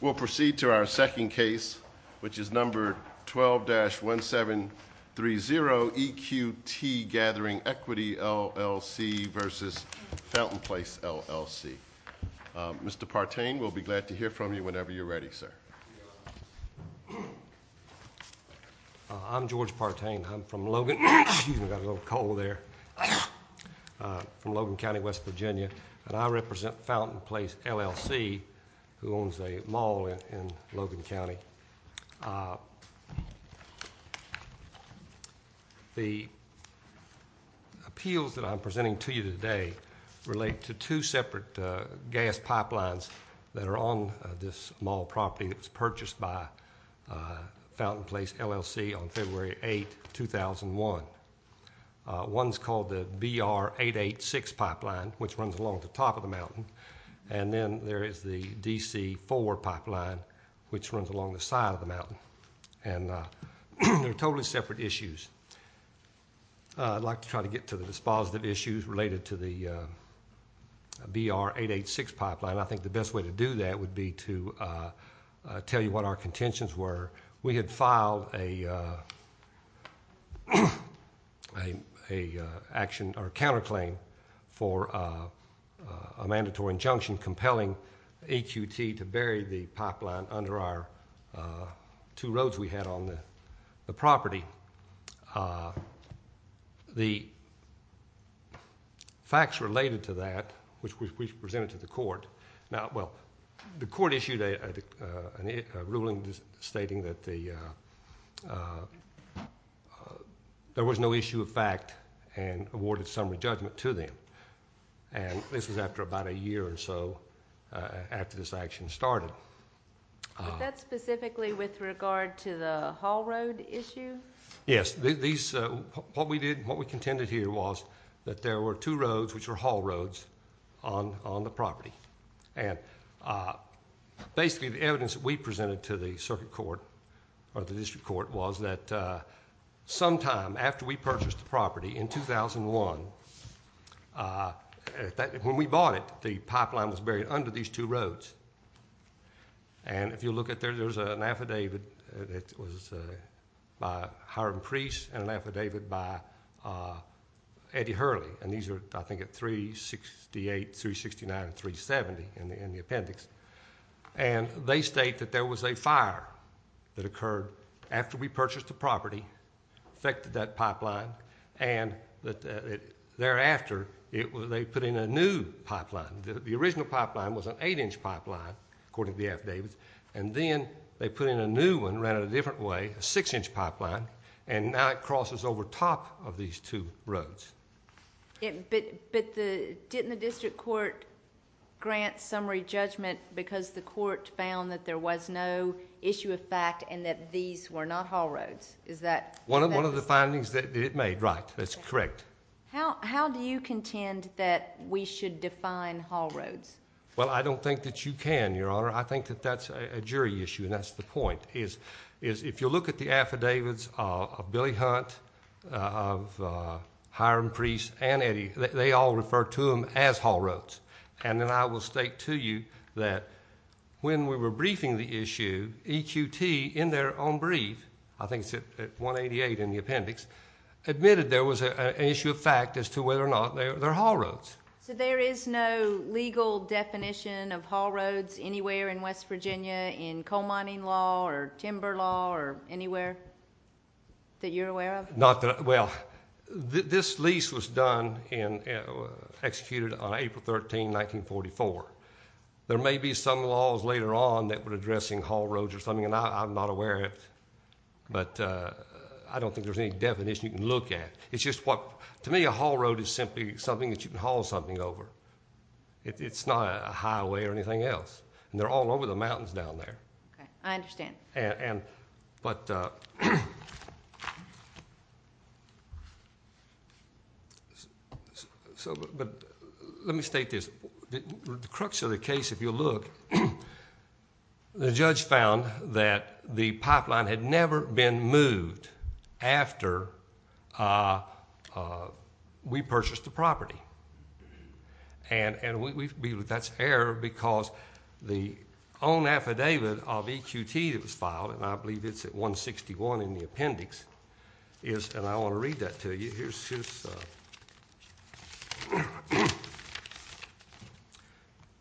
We'll proceed to our second case, which is number 12-1730, EQT Gathering Equity, LLC v. Fountain Place, LLC. Mr. Partain, we'll be glad to hear from you whenever you're ready, sir. I'm George Partain. I'm from Logan County, West Virginia, and I represent Fountain Place, LLC, who owns a mall in Logan County. The appeals that I'm presenting to you today relate to two separate gas pipelines that are on this mall property that was purchased by Fountain Place, LLC on February 8, 2001. One's called the BR-886 pipeline, which runs along the top of the mountain, and then there is the DC-4 pipeline, which runs along the side of the mountain. They're totally separate issues. I'd like to try to get to the dispositive issues related to the BR-886 pipeline. I think the best way to do that would be to tell you what our contentions were. We had filed a counterclaim for a mandatory injunction compelling EQT to bury the pipeline under our two roads we had on the property. The facts related to that, which we presented to the court. The court issued a ruling stating that there was no issue of fact and awarded summary judgment to them. This was after about a year or so after this action started. Was that specifically with regard to the haul road issue? Yes. What we contended here was that there were two roads, which were haul roads, on the property. Basically, the evidence that we presented to the circuit court or the district court was that sometime after we purchased the property in 2001, when we bought it, the pipeline was buried under these two roads. If you look at there, there's an affidavit that was by Hiram Priest and an affidavit by Eddie Hurley. These are, I think, at 368, 369, and 370 in the appendix. They state that there was a fire that occurred after we purchased the property, affected that pipeline. Thereafter, they put in a new pipeline. The original pipeline was an eight-inch pipeline, according to the affidavit. Then, they put in a new one, ran it a different way, a six-inch pipeline. Now, it crosses over top of these two roads. Didn't the district court grant summary judgment because the court found that there was no issue of fact and that these were not haul roads? One of the findings that it made, right. That's correct. How do you contend that we should define haul roads? Well, I don't think that you can, Your Honor. I think that that's a jury issue, and that's the point. If you look at the affidavits of Billy Hunt, of Hiram Priest, and Eddie, they all refer to them as haul roads. Then, I will state to you that when we were briefing the issue, EQT, in their own brief, I think it's at 188 in the appendix, admitted there was an issue of fact as to whether or not they're haul roads. So, there is no legal definition of haul roads anywhere in West Virginia in coal mining law or timber law or anywhere that you're aware of? Well, this lease was executed on April 13, 1944. There may be some laws later on that were addressing haul roads or something, and I'm not aware of it. But I don't think there's any definition you can look at. It's just what, to me, a haul road is simply something that you can haul something over. It's not a highway or anything else, and they're all over the mountains down there. Okay. I understand. But let me state this. The crux of the case, if you'll look, the judge found that the pipeline had never been moved after we purchased the property. And that's error because the own affidavit of EQT that was filed, and I believe it's at 161 in the appendix, and I want to read that to you.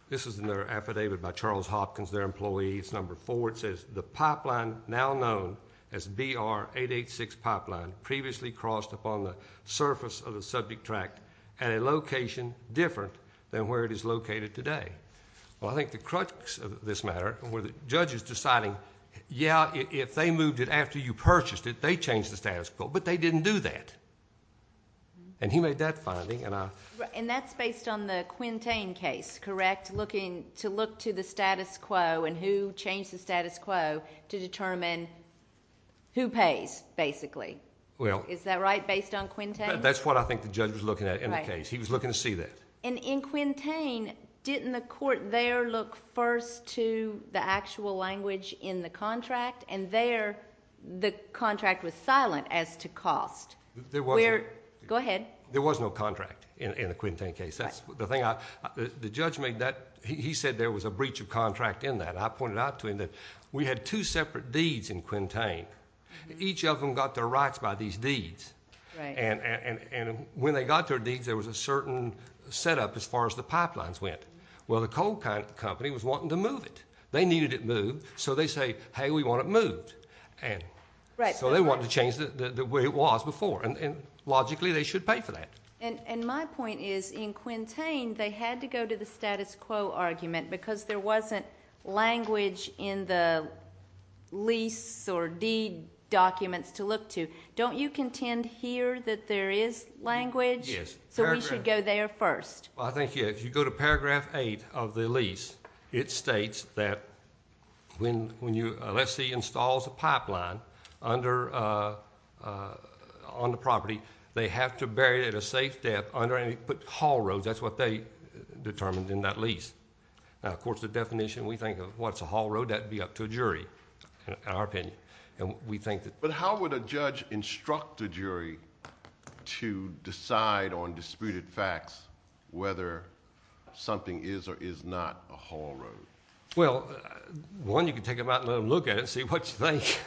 This is in their affidavit by Charles Hopkins, their employee. It's number four. It says the pipeline, now known as BR-886 pipeline, previously crossed upon the surface of the subject tract at a location different than where it is located today. Well, I think the crux of this matter were the judges deciding, yeah, if they moved it after you purchased it, they changed the status quo, but they didn't do that. And he made that finding. And that's based on the Quintain case, correct, to look to the status quo and who changed the status quo to determine who pays, basically. Is that right, based on Quintain? That's what I think the judge was looking at in the case. He was looking to see that. And in Quintain, didn't the court there look first to the actual language in the contract? And there, the contract was silent as to cost. Go ahead. There was no contract in the Quintain case. The judge made that. He said there was a breach of contract in that. I pointed out to him that we had two separate deeds in Quintain. Each of them got their rights by these deeds. And when they got their deeds, there was a certain setup as far as the pipelines went. Well, the coal company was wanting to move it. They needed it moved, so they say, hey, we want it moved. So they wanted to change the way it was before. And logically, they should pay for that. And my point is, in Quintain, they had to go to the status quo argument because there wasn't language in the lease or deed documents to look to. Don't you contend here that there is language? Yes. So we should go there first. Well, I think, yeah, if you go to paragraph 8 of the lease, it states that when you, let's say, installs a pipeline on the property, they have to bury it at a safe depth under any hall roads. That's what they determined in that lease. Now, of course, the definition we think of, what's a hall road? That would be up to a jury, in our opinion. But how would a judge instruct a jury to decide on disputed facts whether something is or is not a hall road? Well, one, you can take them out and let them look at it and see what you think.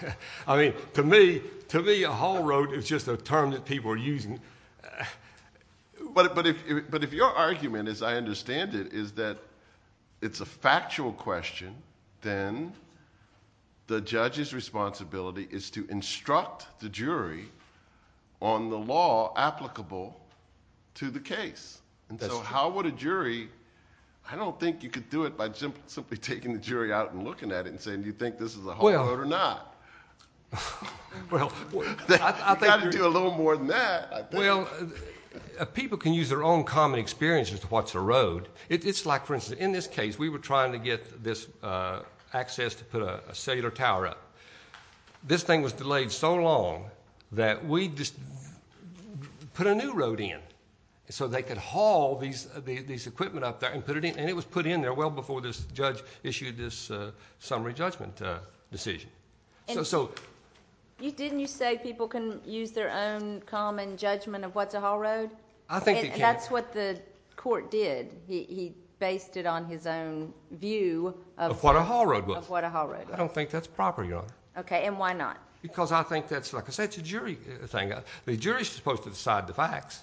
To me, a hall road is just a term that people are using. But if your argument, as I understand it, is that it's a factual question, then the judge's responsibility is to instruct the jury on the law applicable to the case. So how would a jury—I don't think you could do it by simply taking the jury out and looking at it and saying, do you think this is a hall road or not? You've got to do a little more than that, I think. Well, people can use their own common experience as to what's a road. It's like, for instance, in this case, we were trying to get this access to put a cellular tower up. This thing was delayed so long that we just put a new road in so they could haul these equipment up there and put it in. And it was put in there well before this judge issued this summary judgment decision. Didn't you say people can use their own common judgment of what's a hall road? I think they can. And that's what the court did. He based it on his own view of what a hall road was. Of what a hall road was. I don't think that's proper, Your Honor. Okay, and why not? Because I think that's, like I said, it's a jury thing. The jury's supposed to decide the facts,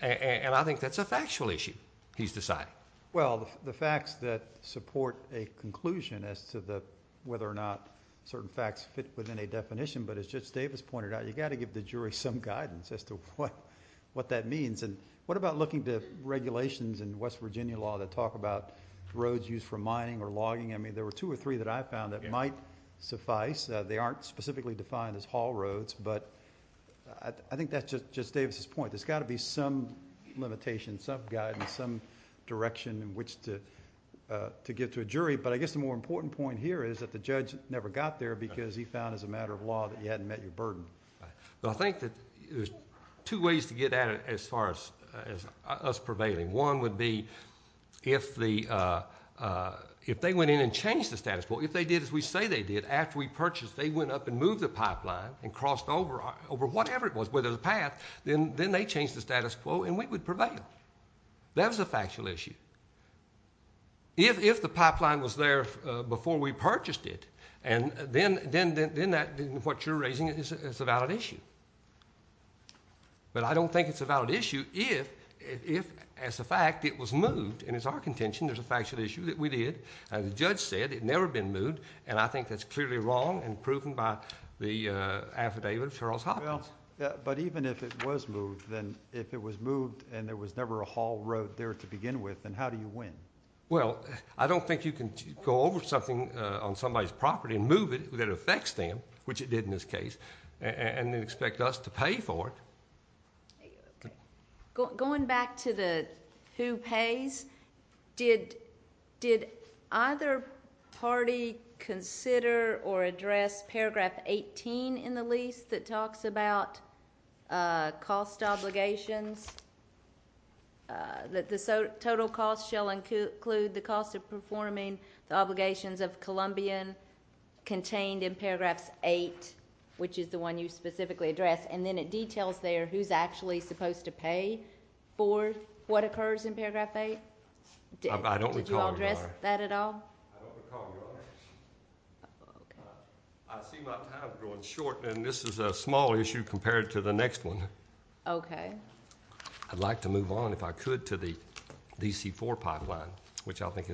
and I think that's a factual issue he's deciding. Well, the facts that support a conclusion as to whether or not certain facts fit within a definition, but as Judge Davis pointed out, you've got to give the jury some guidance as to what that means. And what about looking to regulations in West Virginia law that talk about roads used for mining or logging? I mean, there were two or three that I found that might suffice. They aren't specifically defined as hall roads, but I think that's just Judge Davis's point. There's got to be some limitation, some guidance, some direction in which to give to a jury. But I guess the more important point here is that the judge never got there because he found as a matter of law that he hadn't met your burden. I think that there's two ways to get at it as far as us prevailing. One would be if they went in and changed the status quo. If they did as we say they did, after we purchased, they went up and moved the pipeline and crossed over whatever it was, whether it was a path, then they changed the status quo and we would prevail. That was a factual issue. If the pipeline was there before we purchased it, then what you're raising is a valid issue. But I don't think it's a valid issue if, as a fact, it was moved. And it's our contention there's a factual issue that we did. The judge said it had never been moved, and I think that's clearly wrong and proven by the affidavit of Charles Hopkins. But even if it was moved, then if it was moved and there was never a haul road there to begin with, then how do you win? Well, I don't think you can go over something on somebody's property and move it that affects them, which it did in this case, and then expect us to pay for it. Going back to the who pays, did either party consider or address Paragraph 18 in the lease that talks about cost obligations, that the total cost shall include the cost of performing the obligations of Columbian contained in Paragraphs 8, which is the one you specifically addressed, and then it details there who's actually supposed to pay for what occurs in Paragraph 8? Did you address that at all? I don't recall, Your Honor. I see my time is growing short, and this is a small issue compared to the next one. Okay. I'd like to move on, if I could, to the DC-4 pipeline, which I think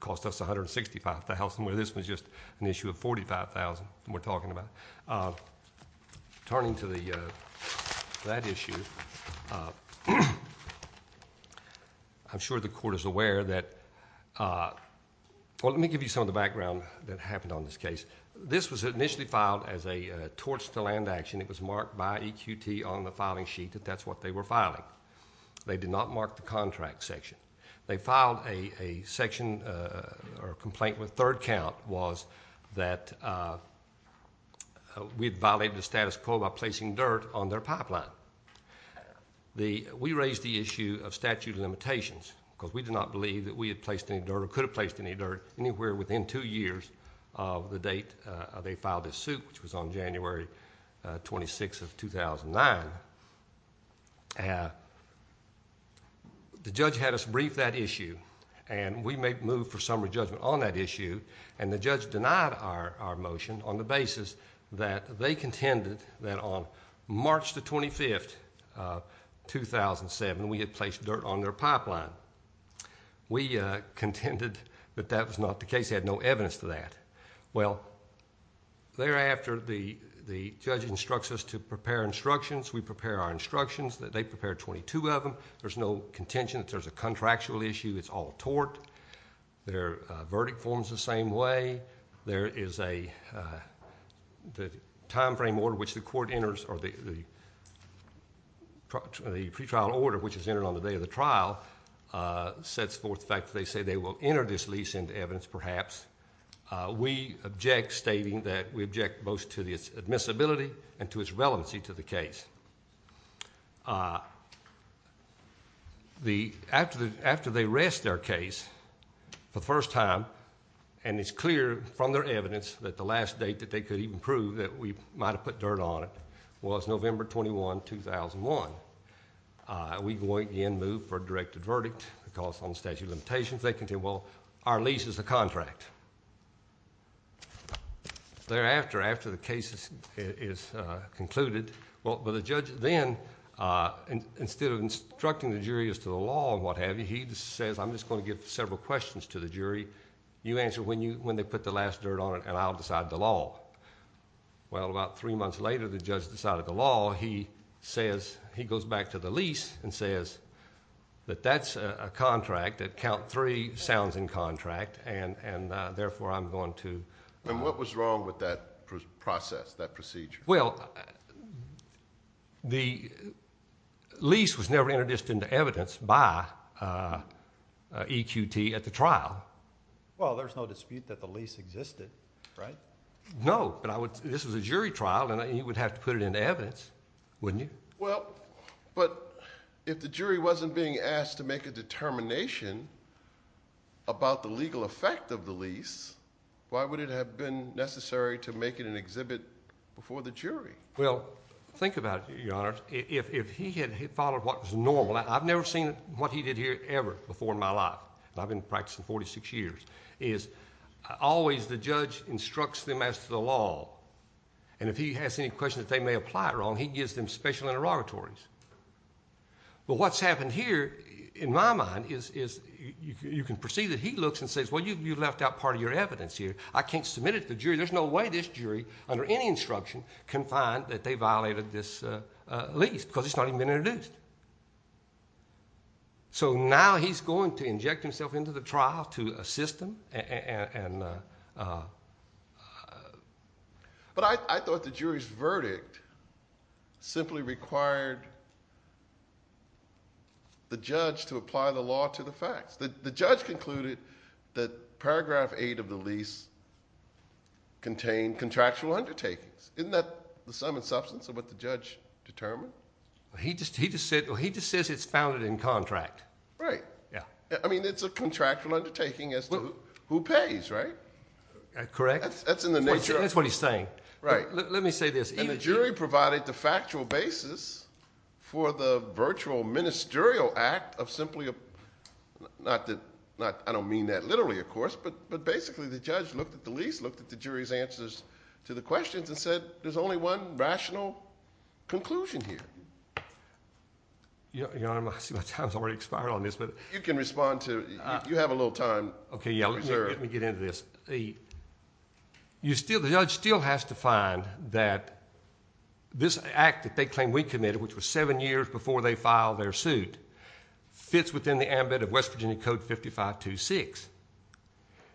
cost us $165,000, where this was just an issue of $45,000 we're talking about. Turning to that issue, I'm sure the Court is aware that well, let me give you some of the background that happened on this case. This was initially filed as a torch-to-land action. It was marked by EQT on the filing sheet that that's what they were filing. They did not mark the contract section. They filed a section or complaint with third count was that we had violated the status quo by placing dirt on their pipeline. We raised the issue of statute of limitations because we did not believe that we had placed any dirt or could have placed any dirt anywhere within two years of the date they filed this suit, which was on January 26th of 2009. The judge had us brief that issue, and we moved for summary judgment on that issue, and the judge denied our motion on the basis that they contended that on March 25th, 2007, we had placed dirt on their pipeline. We contended that that was not the case. They had no evidence to that. Well, thereafter, the judge instructs us to prepare instructions. We prepare our instructions. They prepare 22 of them. There's no contention that there's a contractual issue. It's all tort. Their verdict forms the same way. The time frame order which the court enters or the pretrial order which is entered on the day of the trial sets forth the fact that they say they will enter this lease into evidence perhaps. We object, stating that we object both to its admissibility and to its relevancy to the case. After they rest their case for the first time, and it's clear from their evidence that the last date that they could even prove that we might have put dirt on it was November 21, 2001, we again move for a directed verdict because on statute of limitations, they can say, well, our lease is a contract. Thereafter, after the case is concluded, the judge then instead of instructing the jury as to the law and what have you, he says, I'm just going to give several questions to the jury. You answer when they put the last dirt on it, and I'll decide the law. Well, about three months later, the judge decided the law. He goes back to the lease and says that that's a contract that count three sounds in contract, and therefore I'm going to... What was wrong with that process, that procedure? Well, the lease was never introduced into evidence by EQT at the trial. Well, there's no dispute that the lease existed, right? No, but this was a jury trial, and you would have to put it into evidence, wouldn't you? Well, but if the jury wasn't being asked to make a determination about the legal effect of the lease, why would it have been necessary to make it an exhibit before the jury? Well, think about it, Your Honor. If he had followed what was normal, I've never seen what he did here ever before in my life, and I've been practicing 46 years, is always the judge instructs them as to the law, and if he has any questions that they may apply it wrong, he gives them special interrogatories. But what's happened here, in my mind, is you can perceive that he looks and says, well, you left out part of your evidence here. I can't submit it to the jury. There's no way this jury under any instruction can find that they violated this lease because it's not even been introduced. So now he's going to inject himself into the trial to assist them. But I thought the jury's verdict simply required the judge to apply the law to the facts. The judge concluded that Paragraph 8 of the lease contained contractual undertakings. Isn't that the sum and substance of what the judge determined? He just says it's founded in contract. Right. I mean it's a contractual undertaking as to who pays, right? Correct. That's in the nature of it. That's what he's saying. Right. Let me say this. And the jury provided the factual basis for the virtual ministerial act of simply a – not that I don't mean that literally, of course, but basically the judge looked at the lease, looked at the jury's answers to the questions, and said there's only one rational conclusion here. Your Honor, I see my time's already expired on this. You can respond to it. You have a little time. Okay, yeah. Let me get into this. The judge still has to find that this act that they claim we committed, which was seven years before they filed their suit, fits within the ambit of West Virginia Code 5526,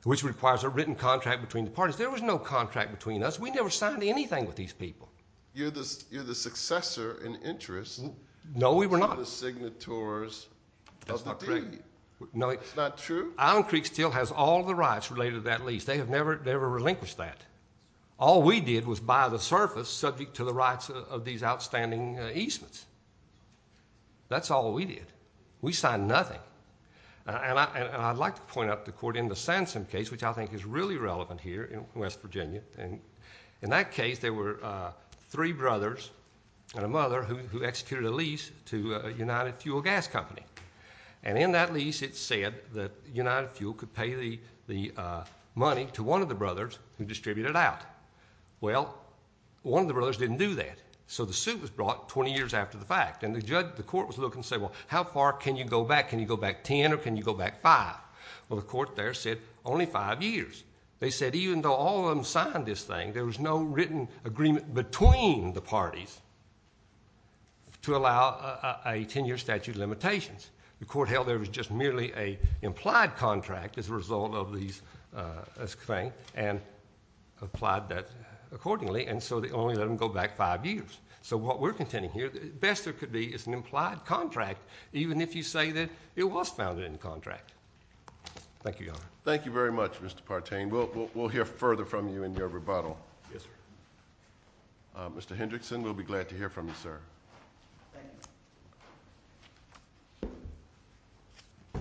which requires a written contract between the parties. There was no contract between us. We never signed anything with these people. You're the successor in interest. No, we were not. To the signatories of the deed. That's not correct. It's not true? Island Creek still has all the rights related to that lease. They have never relinquished that. All we did was buy the surface subject to the rights of these outstanding easements. That's all we did. We signed nothing. And I'd like to point out to the Court, in the Sansom case, which I think is really relevant here in West Virginia, in that case there were three brothers and a mother who executed a lease to a United Fuel gas company. And in that lease it said that United Fuel could pay the money to one of the brothers who distributed out. Well, one of the brothers didn't do that. So the suit was brought 20 years after the fact. And the court was looking to say, well, how far can you go back? Can you go back ten or can you go back five? Well, the court there said only five years. They said even though all of them signed this thing, there was no written agreement between the parties to allow a ten-year statute of limitations. The court held there was just merely an implied contract as a result of this thing and applied that accordingly. And so they only let them go back five years. So what we're contending here, the best there could be is an implied contract, Thank you, Your Honor. Thank you very much, Mr. Partain. We'll hear further from you in your rebuttal. Yes, sir. Mr. Hendrickson, we'll be glad to hear from you, sir. Thank you. I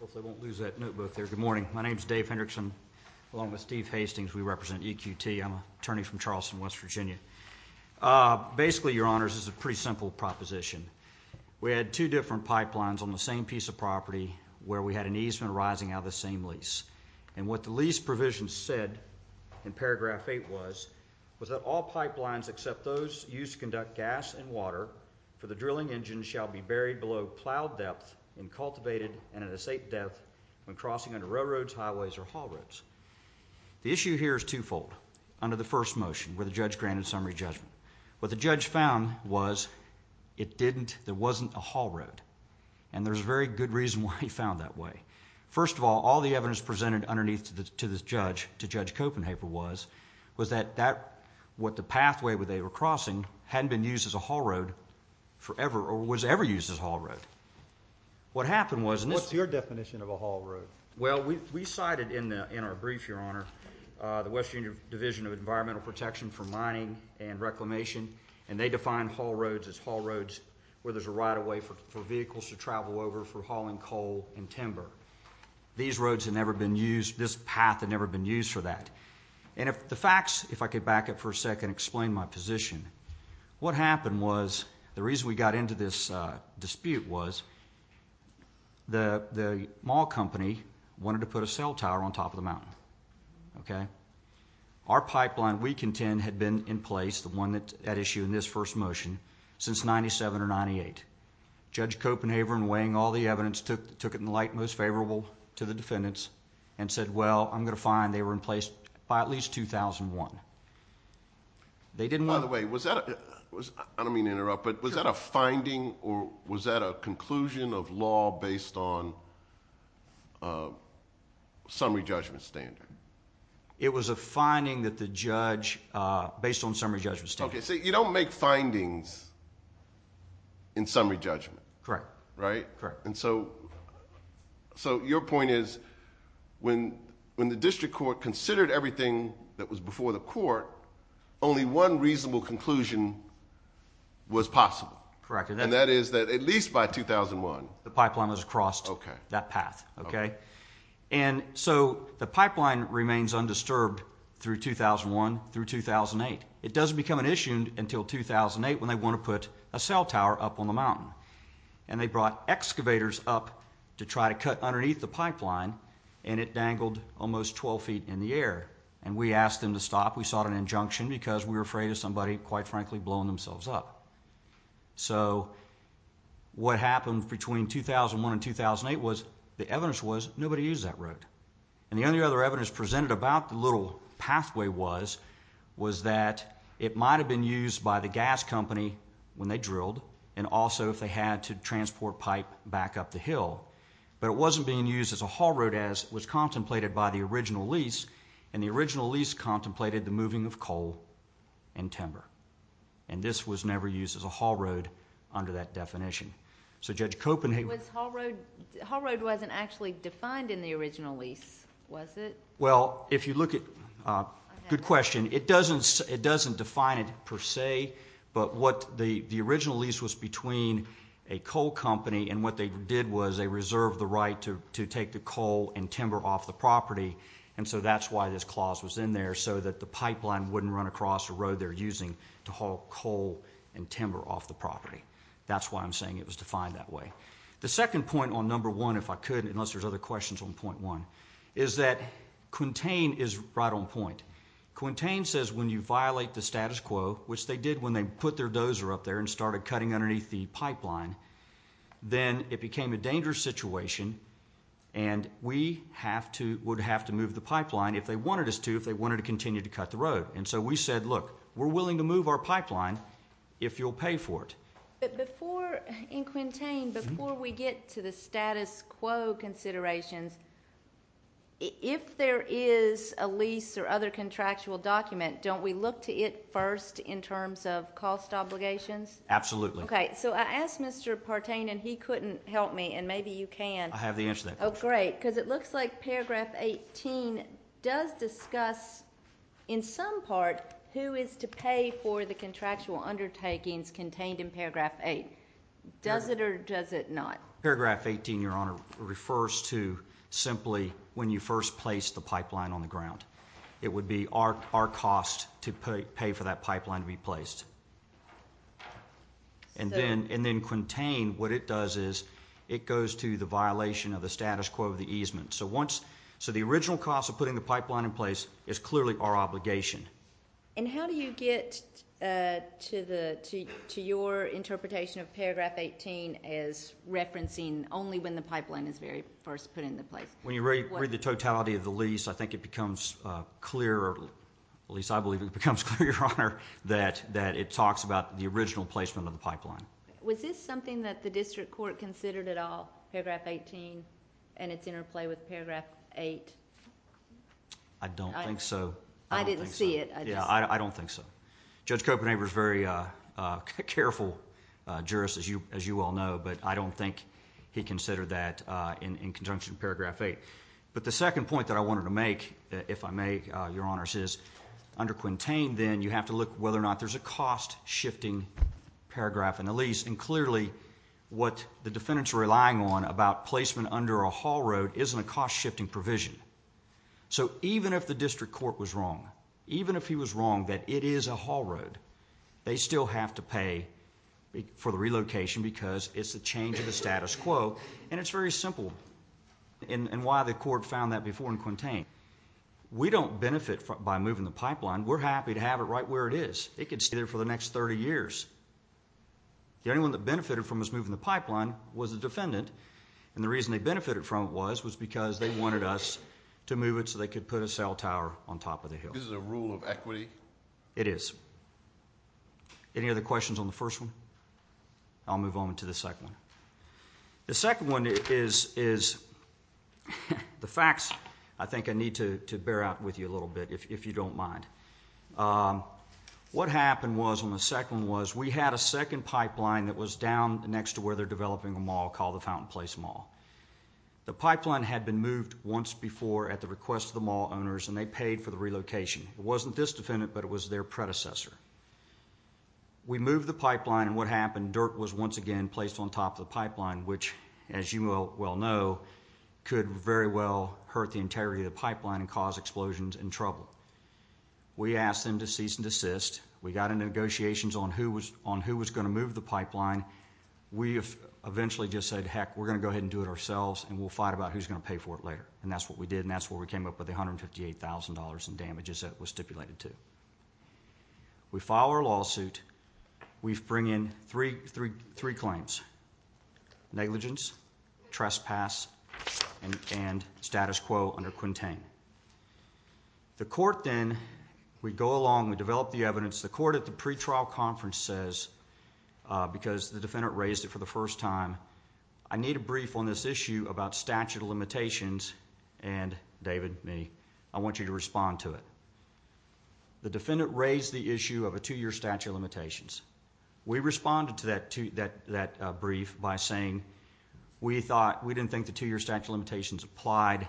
hope I won't lose that notebook there. Good morning. My name is Dave Hendrickson along with Steve Hastings. We represent EQT. I'm an attorney from Charleston, West Virginia. Basically, Your Honors, this is a pretty simple proposition. We had two different pipelines on the same piece of property where we had an easement arising out of the same lease. And what the lease provision said in paragraph 8 was was that all pipelines except those used to conduct gas and water for the drilling engine shall be buried below plowed depth and cultivated and at a safe depth when crossing under railroads, highways, or haul roads. The issue here is twofold. Under the first motion, where the judge granted summary judgment, what the judge found was it didn't, there wasn't a haul road. And there's a very good reason why he found that way. First of all, all the evidence presented underneath to the judge, to Judge Copenhaver, was that what the pathway they were crossing hadn't been used as a haul road forever or was ever used as a haul road. What happened was... What's your definition of a haul road? Well, we cited in our brief, Your Honor, the West Virginia Division of Environmental Protection for Mining and Reclamation, and they define haul roads as haul roads where there's a right-of-way for vehicles to travel over for hauling coal and timber. These roads had never been used, this path had never been used for that. And the facts, if I could back up for a second and explain my position, what happened was, the reason we got into this dispute was the mall company wanted to put a cell tower on top of the mountain. Okay? Our pipeline, we contend, had been in place, the one at issue in this first motion, since 97 or 98. Judge Copenhaver, in weighing all the evidence, took it in the light most favorable to the defendants and said, well, I'm going to find they were in place by at least 2001. By the way, was that a... I don't mean to interrupt, but was that a finding or was that a conclusion of law based on summary judgment standard? It was a finding that the judge, based on summary judgment standard. Okay, so you don't make findings in summary judgment. Correct. Right? Correct. And so, your point is, when the district court considered everything that was before the court, only one reasonable conclusion was possible. Correct. And that is that at least by 2001... The pipeline was crossed that path. Okay. And so, the pipeline remains undisturbed through 2001 through 2008. It doesn't become an issue until 2008 when they want to put a cell tower up on the mountain. And they brought excavators up to try to cut underneath the pipeline and it dangled almost 12 feet in the air. And we asked them to stop. We sought an injunction because we were afraid of somebody, quite frankly, blowing themselves up. So, what happened between 2001 and 2008 was the evidence was nobody used that road. And the only other evidence presented about the little pathway was that it might have been used by the gas company when they drilled and also if they had to transport pipe back up the hill. But it wasn't being used as a haul road as was contemplated by the original lease, and the original lease contemplated the moving of coal and timber. And this was never used as a haul road under that definition. So, Judge Copen... The haul road wasn't actually defined in the original lease, was it? Well, if you look at... Good question. It doesn't define it per se, but what the original lease was between a coal company and what they did was they reserved the right to take the coal and timber off the property. And so that's why this clause was in there, so that the pipeline wouldn't run across the road they're using to haul coal and timber off the property. That's why I'm saying it was defined that way. The second point on number one, if I could, unless there's other questions on point one, is that Quintain is right on point. Quintain says when you violate the status quo, which they did when they put their dozer up there and started cutting underneath the pipeline, then it became a dangerous situation and we would have to move the pipeline if they wanted us to if they wanted to continue to cut the road. And so we said, look, we're willing to move our pipeline if you'll pay for it. But before, in Quintain, before we get to the status quo considerations, if there is a lease or other contractual document, don't we look to it first in terms of cost obligations? Absolutely. OK, so I asked Mr. Partain, and he couldn't help me, and maybe you can. I have the answer to that question. Oh, great, because it looks like Paragraph 18 does discuss, in some part, who is to pay for the contractual undertakings contained in Paragraph 8. Does it or does it not? Paragraph 18, Your Honor, refers to simply when you first place the pipeline on the ground. It would be our cost to pay for that pipeline to be placed. And then Quintain, what it does is it goes to the violation of the status quo of the easement. So the original cost of putting the pipeline in place is clearly our obligation. And how do you get to your interpretation of Paragraph 18 as referencing only when the pipeline is very first put into place? When you read the totality of the lease, at least I believe it becomes clear, Your Honor, that it talks about the original placement of the pipeline. Was this something that the district court considered at all, Paragraph 18 and its interplay with Paragraph 8? I don't think so. I didn't see it. Yeah, I don't think so. Judge Copenhaver is a very careful jurist, as you all know, but I don't think he considered that in conjunction with Paragraph 8. But the second point that I wanted to make, if I may, Your Honor, is under Quintain, then, you have to look whether or not there's a cost-shifting paragraph in the lease. And clearly, what the defendants are relying on about placement under a haul road isn't a cost-shifting provision. So even if the district court was wrong, even if he was wrong that it is a haul road, they still have to pay for the relocation because it's a change of the status quo. And it's very simple in why the court found that before in Quintain. We don't benefit by moving the pipeline. We're happy to have it right where it is. It could stay there for the next 30 years. The only one that benefited from us moving the pipeline was the defendant, and the reason they benefited from it was because they wanted us to move it so they could put a cell tower on top of the hill. This is a rule of equity? It is. Any other questions on the first one? I'll move on to the second one. The second one is the facts. I think I need to bear out with you a little bit, if you don't mind. What happened was on the second one was we had a second pipeline that was down next to where they're developing a mall called the Fountain Place Mall. The pipeline had been moved once before at the request of the mall owners, and they paid for the relocation. It wasn't this defendant, but it was their predecessor. We moved the pipeline, and what happened, dirt was once again placed on top of the pipeline, which, as you well know, could very well hurt the integrity of the pipeline and cause explosions and trouble. We asked them to cease and desist. We got into negotiations on who was going to move the pipeline. We eventually just said, heck, we're going to go ahead and do it ourselves, and we'll fight about who's going to pay for it later, and that's what we did, and that's where we came up with the $158,000 in damages that it was stipulated to. We filed our lawsuit. We bring in three claims. Negligence, trespass, and status quo under Quintain. The court then, we go along, we develop the evidence. The court at the pretrial conference says, because the defendant raised it for the first time, I need a brief on this issue about statute of limitations, and David, me, I want you to respond to it. We responded to that brief by saying, we didn't think the two-year statute of limitations applied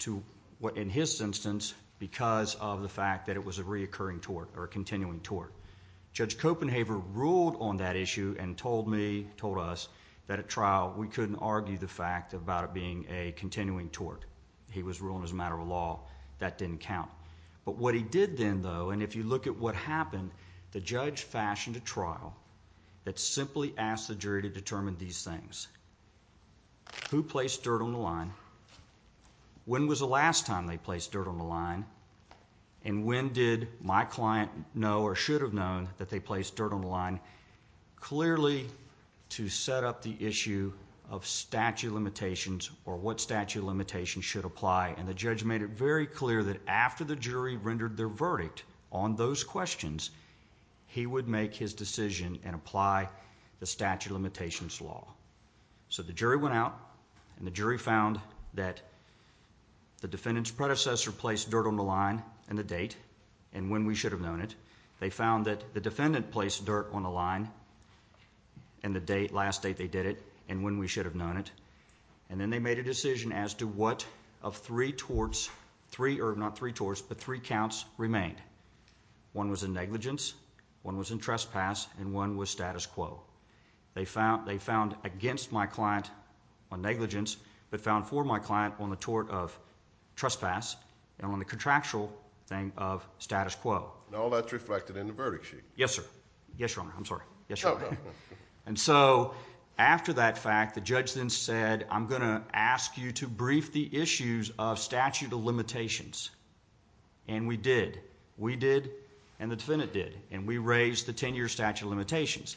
to what, in his instance, because of the fact that it was a reoccurring tort, or a continuing tort. Judge Copenhaver ruled on that issue and told me, told us, that at trial, we couldn't argue the fact about it being a continuing tort. He was ruling as a matter of law. That didn't count. But what he did then, though, and if you look at what happened, the judge fashioned a trial that simply asked the jury to determine these things. Who placed dirt on the line? When was the last time they placed dirt on the line? And when did my client know, or should have known, that they placed dirt on the line? Clearly, to set up the issue of statute of limitations, or what statute of limitations should apply. And the judge made it very clear that after the jury rendered their verdict on those questions, he would make his decision and apply the statute of limitations law. So the jury went out, and the jury found that the defendant's predecessor placed dirt on the line in the date, and when we should have known it. They found that the defendant placed dirt on the line in the date, last date they did it, and when we should have known it. And then they made a decision as to what of three torts, remained. One was in negligence, one was in trespass, and one was status quo. They found against my client on negligence, but found for my client on the tort of trespass, and on the contractual thing of status quo. And all that's reflected in the verdict sheet. Yes, sir. Yes, Your Honor. I'm sorry. Yes, Your Honor. And so, after that fact, the judge then said, I'm going to ask you to brief the issues of statute of limitations. And we did. We did, and the defendant did. And we raised the ten-year statute of limitations.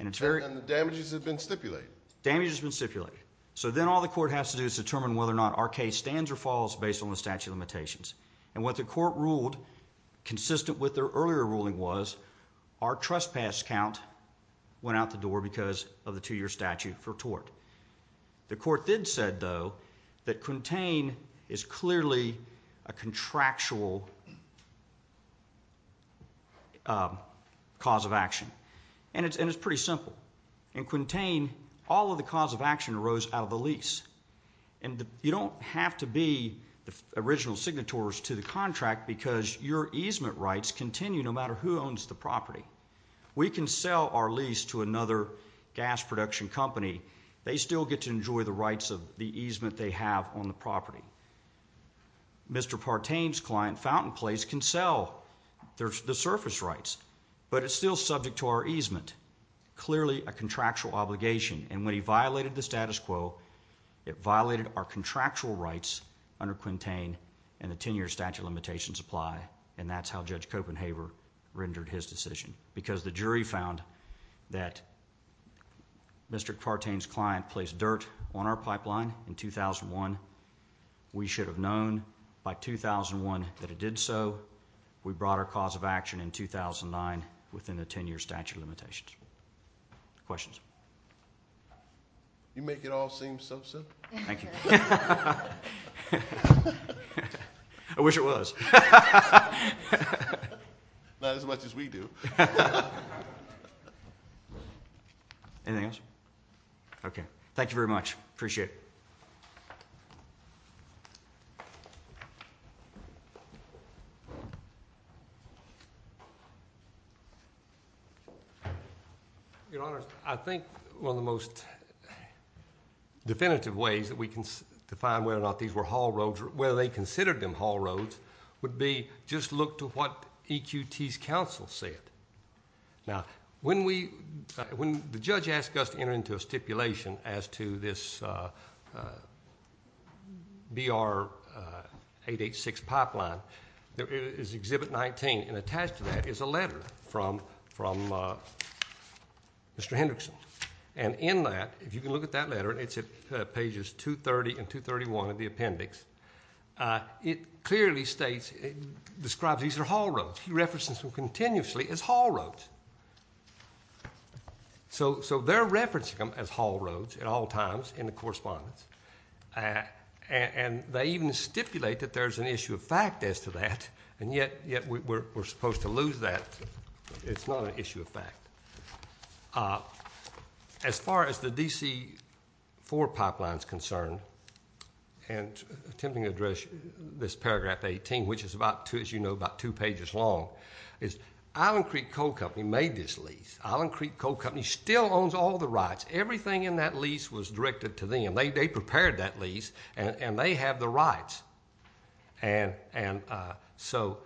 And the damages have been stipulated. Damages have been stipulated. So then all the court has to do is determine whether or not our case stands or falls based on the statute of limitations. And what the court ruled, consistent with their earlier ruling was, our trespass count went out the door because of the two-year statute for tort. The court did say, though, that Quintain is clearly a contractual cause of action. And it's pretty simple. In Quintain, all of the cause of action arose out of the lease. And you don't have to be the original signatories to the contract because your easement rights continue no matter who owns the property. We can sell our lease to another gas production company they still get to enjoy the rights of the easement they have on the property. Mr. Partain's client, Fountain Place, can sell the surface rights, but it's still subject to our easement, clearly a contractual obligation. And when he violated the status quo, it violated our contractual rights under Quintain and the ten-year statute of limitations apply. And that's how Judge Copenhaver rendered his decision because the jury found that Mr. Partain's client placed dirt on our pipeline in 2001. We should have known by 2001 that it did so. We brought our cause of action in 2009 within the ten-year statute of limitations. Questions? You make it all seem so simple. Thank you. I wish it was. Not as much as we do. Anything else? Okay. Thank you very much. Appreciate it. Your Honor, I think one of the most definitive ways that we can define whether or not these were haul roads or whether they considered them haul roads would be just look to what EQT's counsel said. Now, when the judge asked us to enter into a stipulation as to this BR-886 pipeline, there is Exhibit 19, and attached to that is a letter from Mr. Hendrickson. And in that, if you can look at that letter, it's at pages 230 and 231 of the appendix, it clearly describes these are haul roads. He references them continuously as haul roads. So they're referencing them as haul roads at all times in the correspondence, and they even stipulate that there's an issue of fact as to that, and yet we're supposed to lose that. It's not an issue of fact. As far as the DC-4 pipeline is concerned, and attempting to address this paragraph 18, which is, as you know, about two pages long, is Island Creek Coal Company made this lease. Island Creek Coal Company still owns all the rights. Everything in that lease was directed to them. They prepared that lease, and they have the rights. And so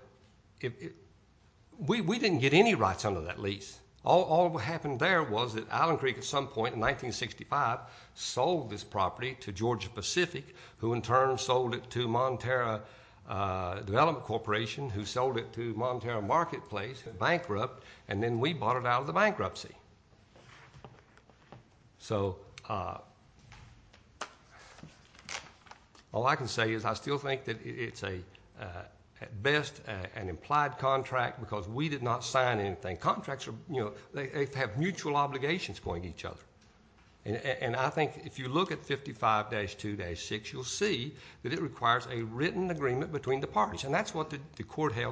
we didn't get any rights under that lease. All that happened there was that Island Creek at some point in 1965 sold this property to Georgia Pacific, who in turn sold it to Montero Development Corporation, who sold it to Montero Marketplace, bankrupt, and then we bought it out of the bankruptcy. So all I can say is I still think that it's at best an implied contract because we did not sign anything. Contracts have mutual obligations going to each other, and I think if you look at 55-2-6, you'll see that it requires a written agreement between the parties, and that's what the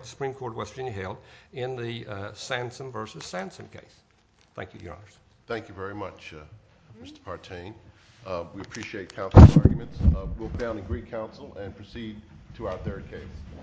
Supreme Court of West Virginia held in the Sansom v. Sansom case. Thank you, Your Honor. Thank you very much, Mr. Partain. We appreciate counsel's arguments. We'll go down and greet counsel and proceed to our third case.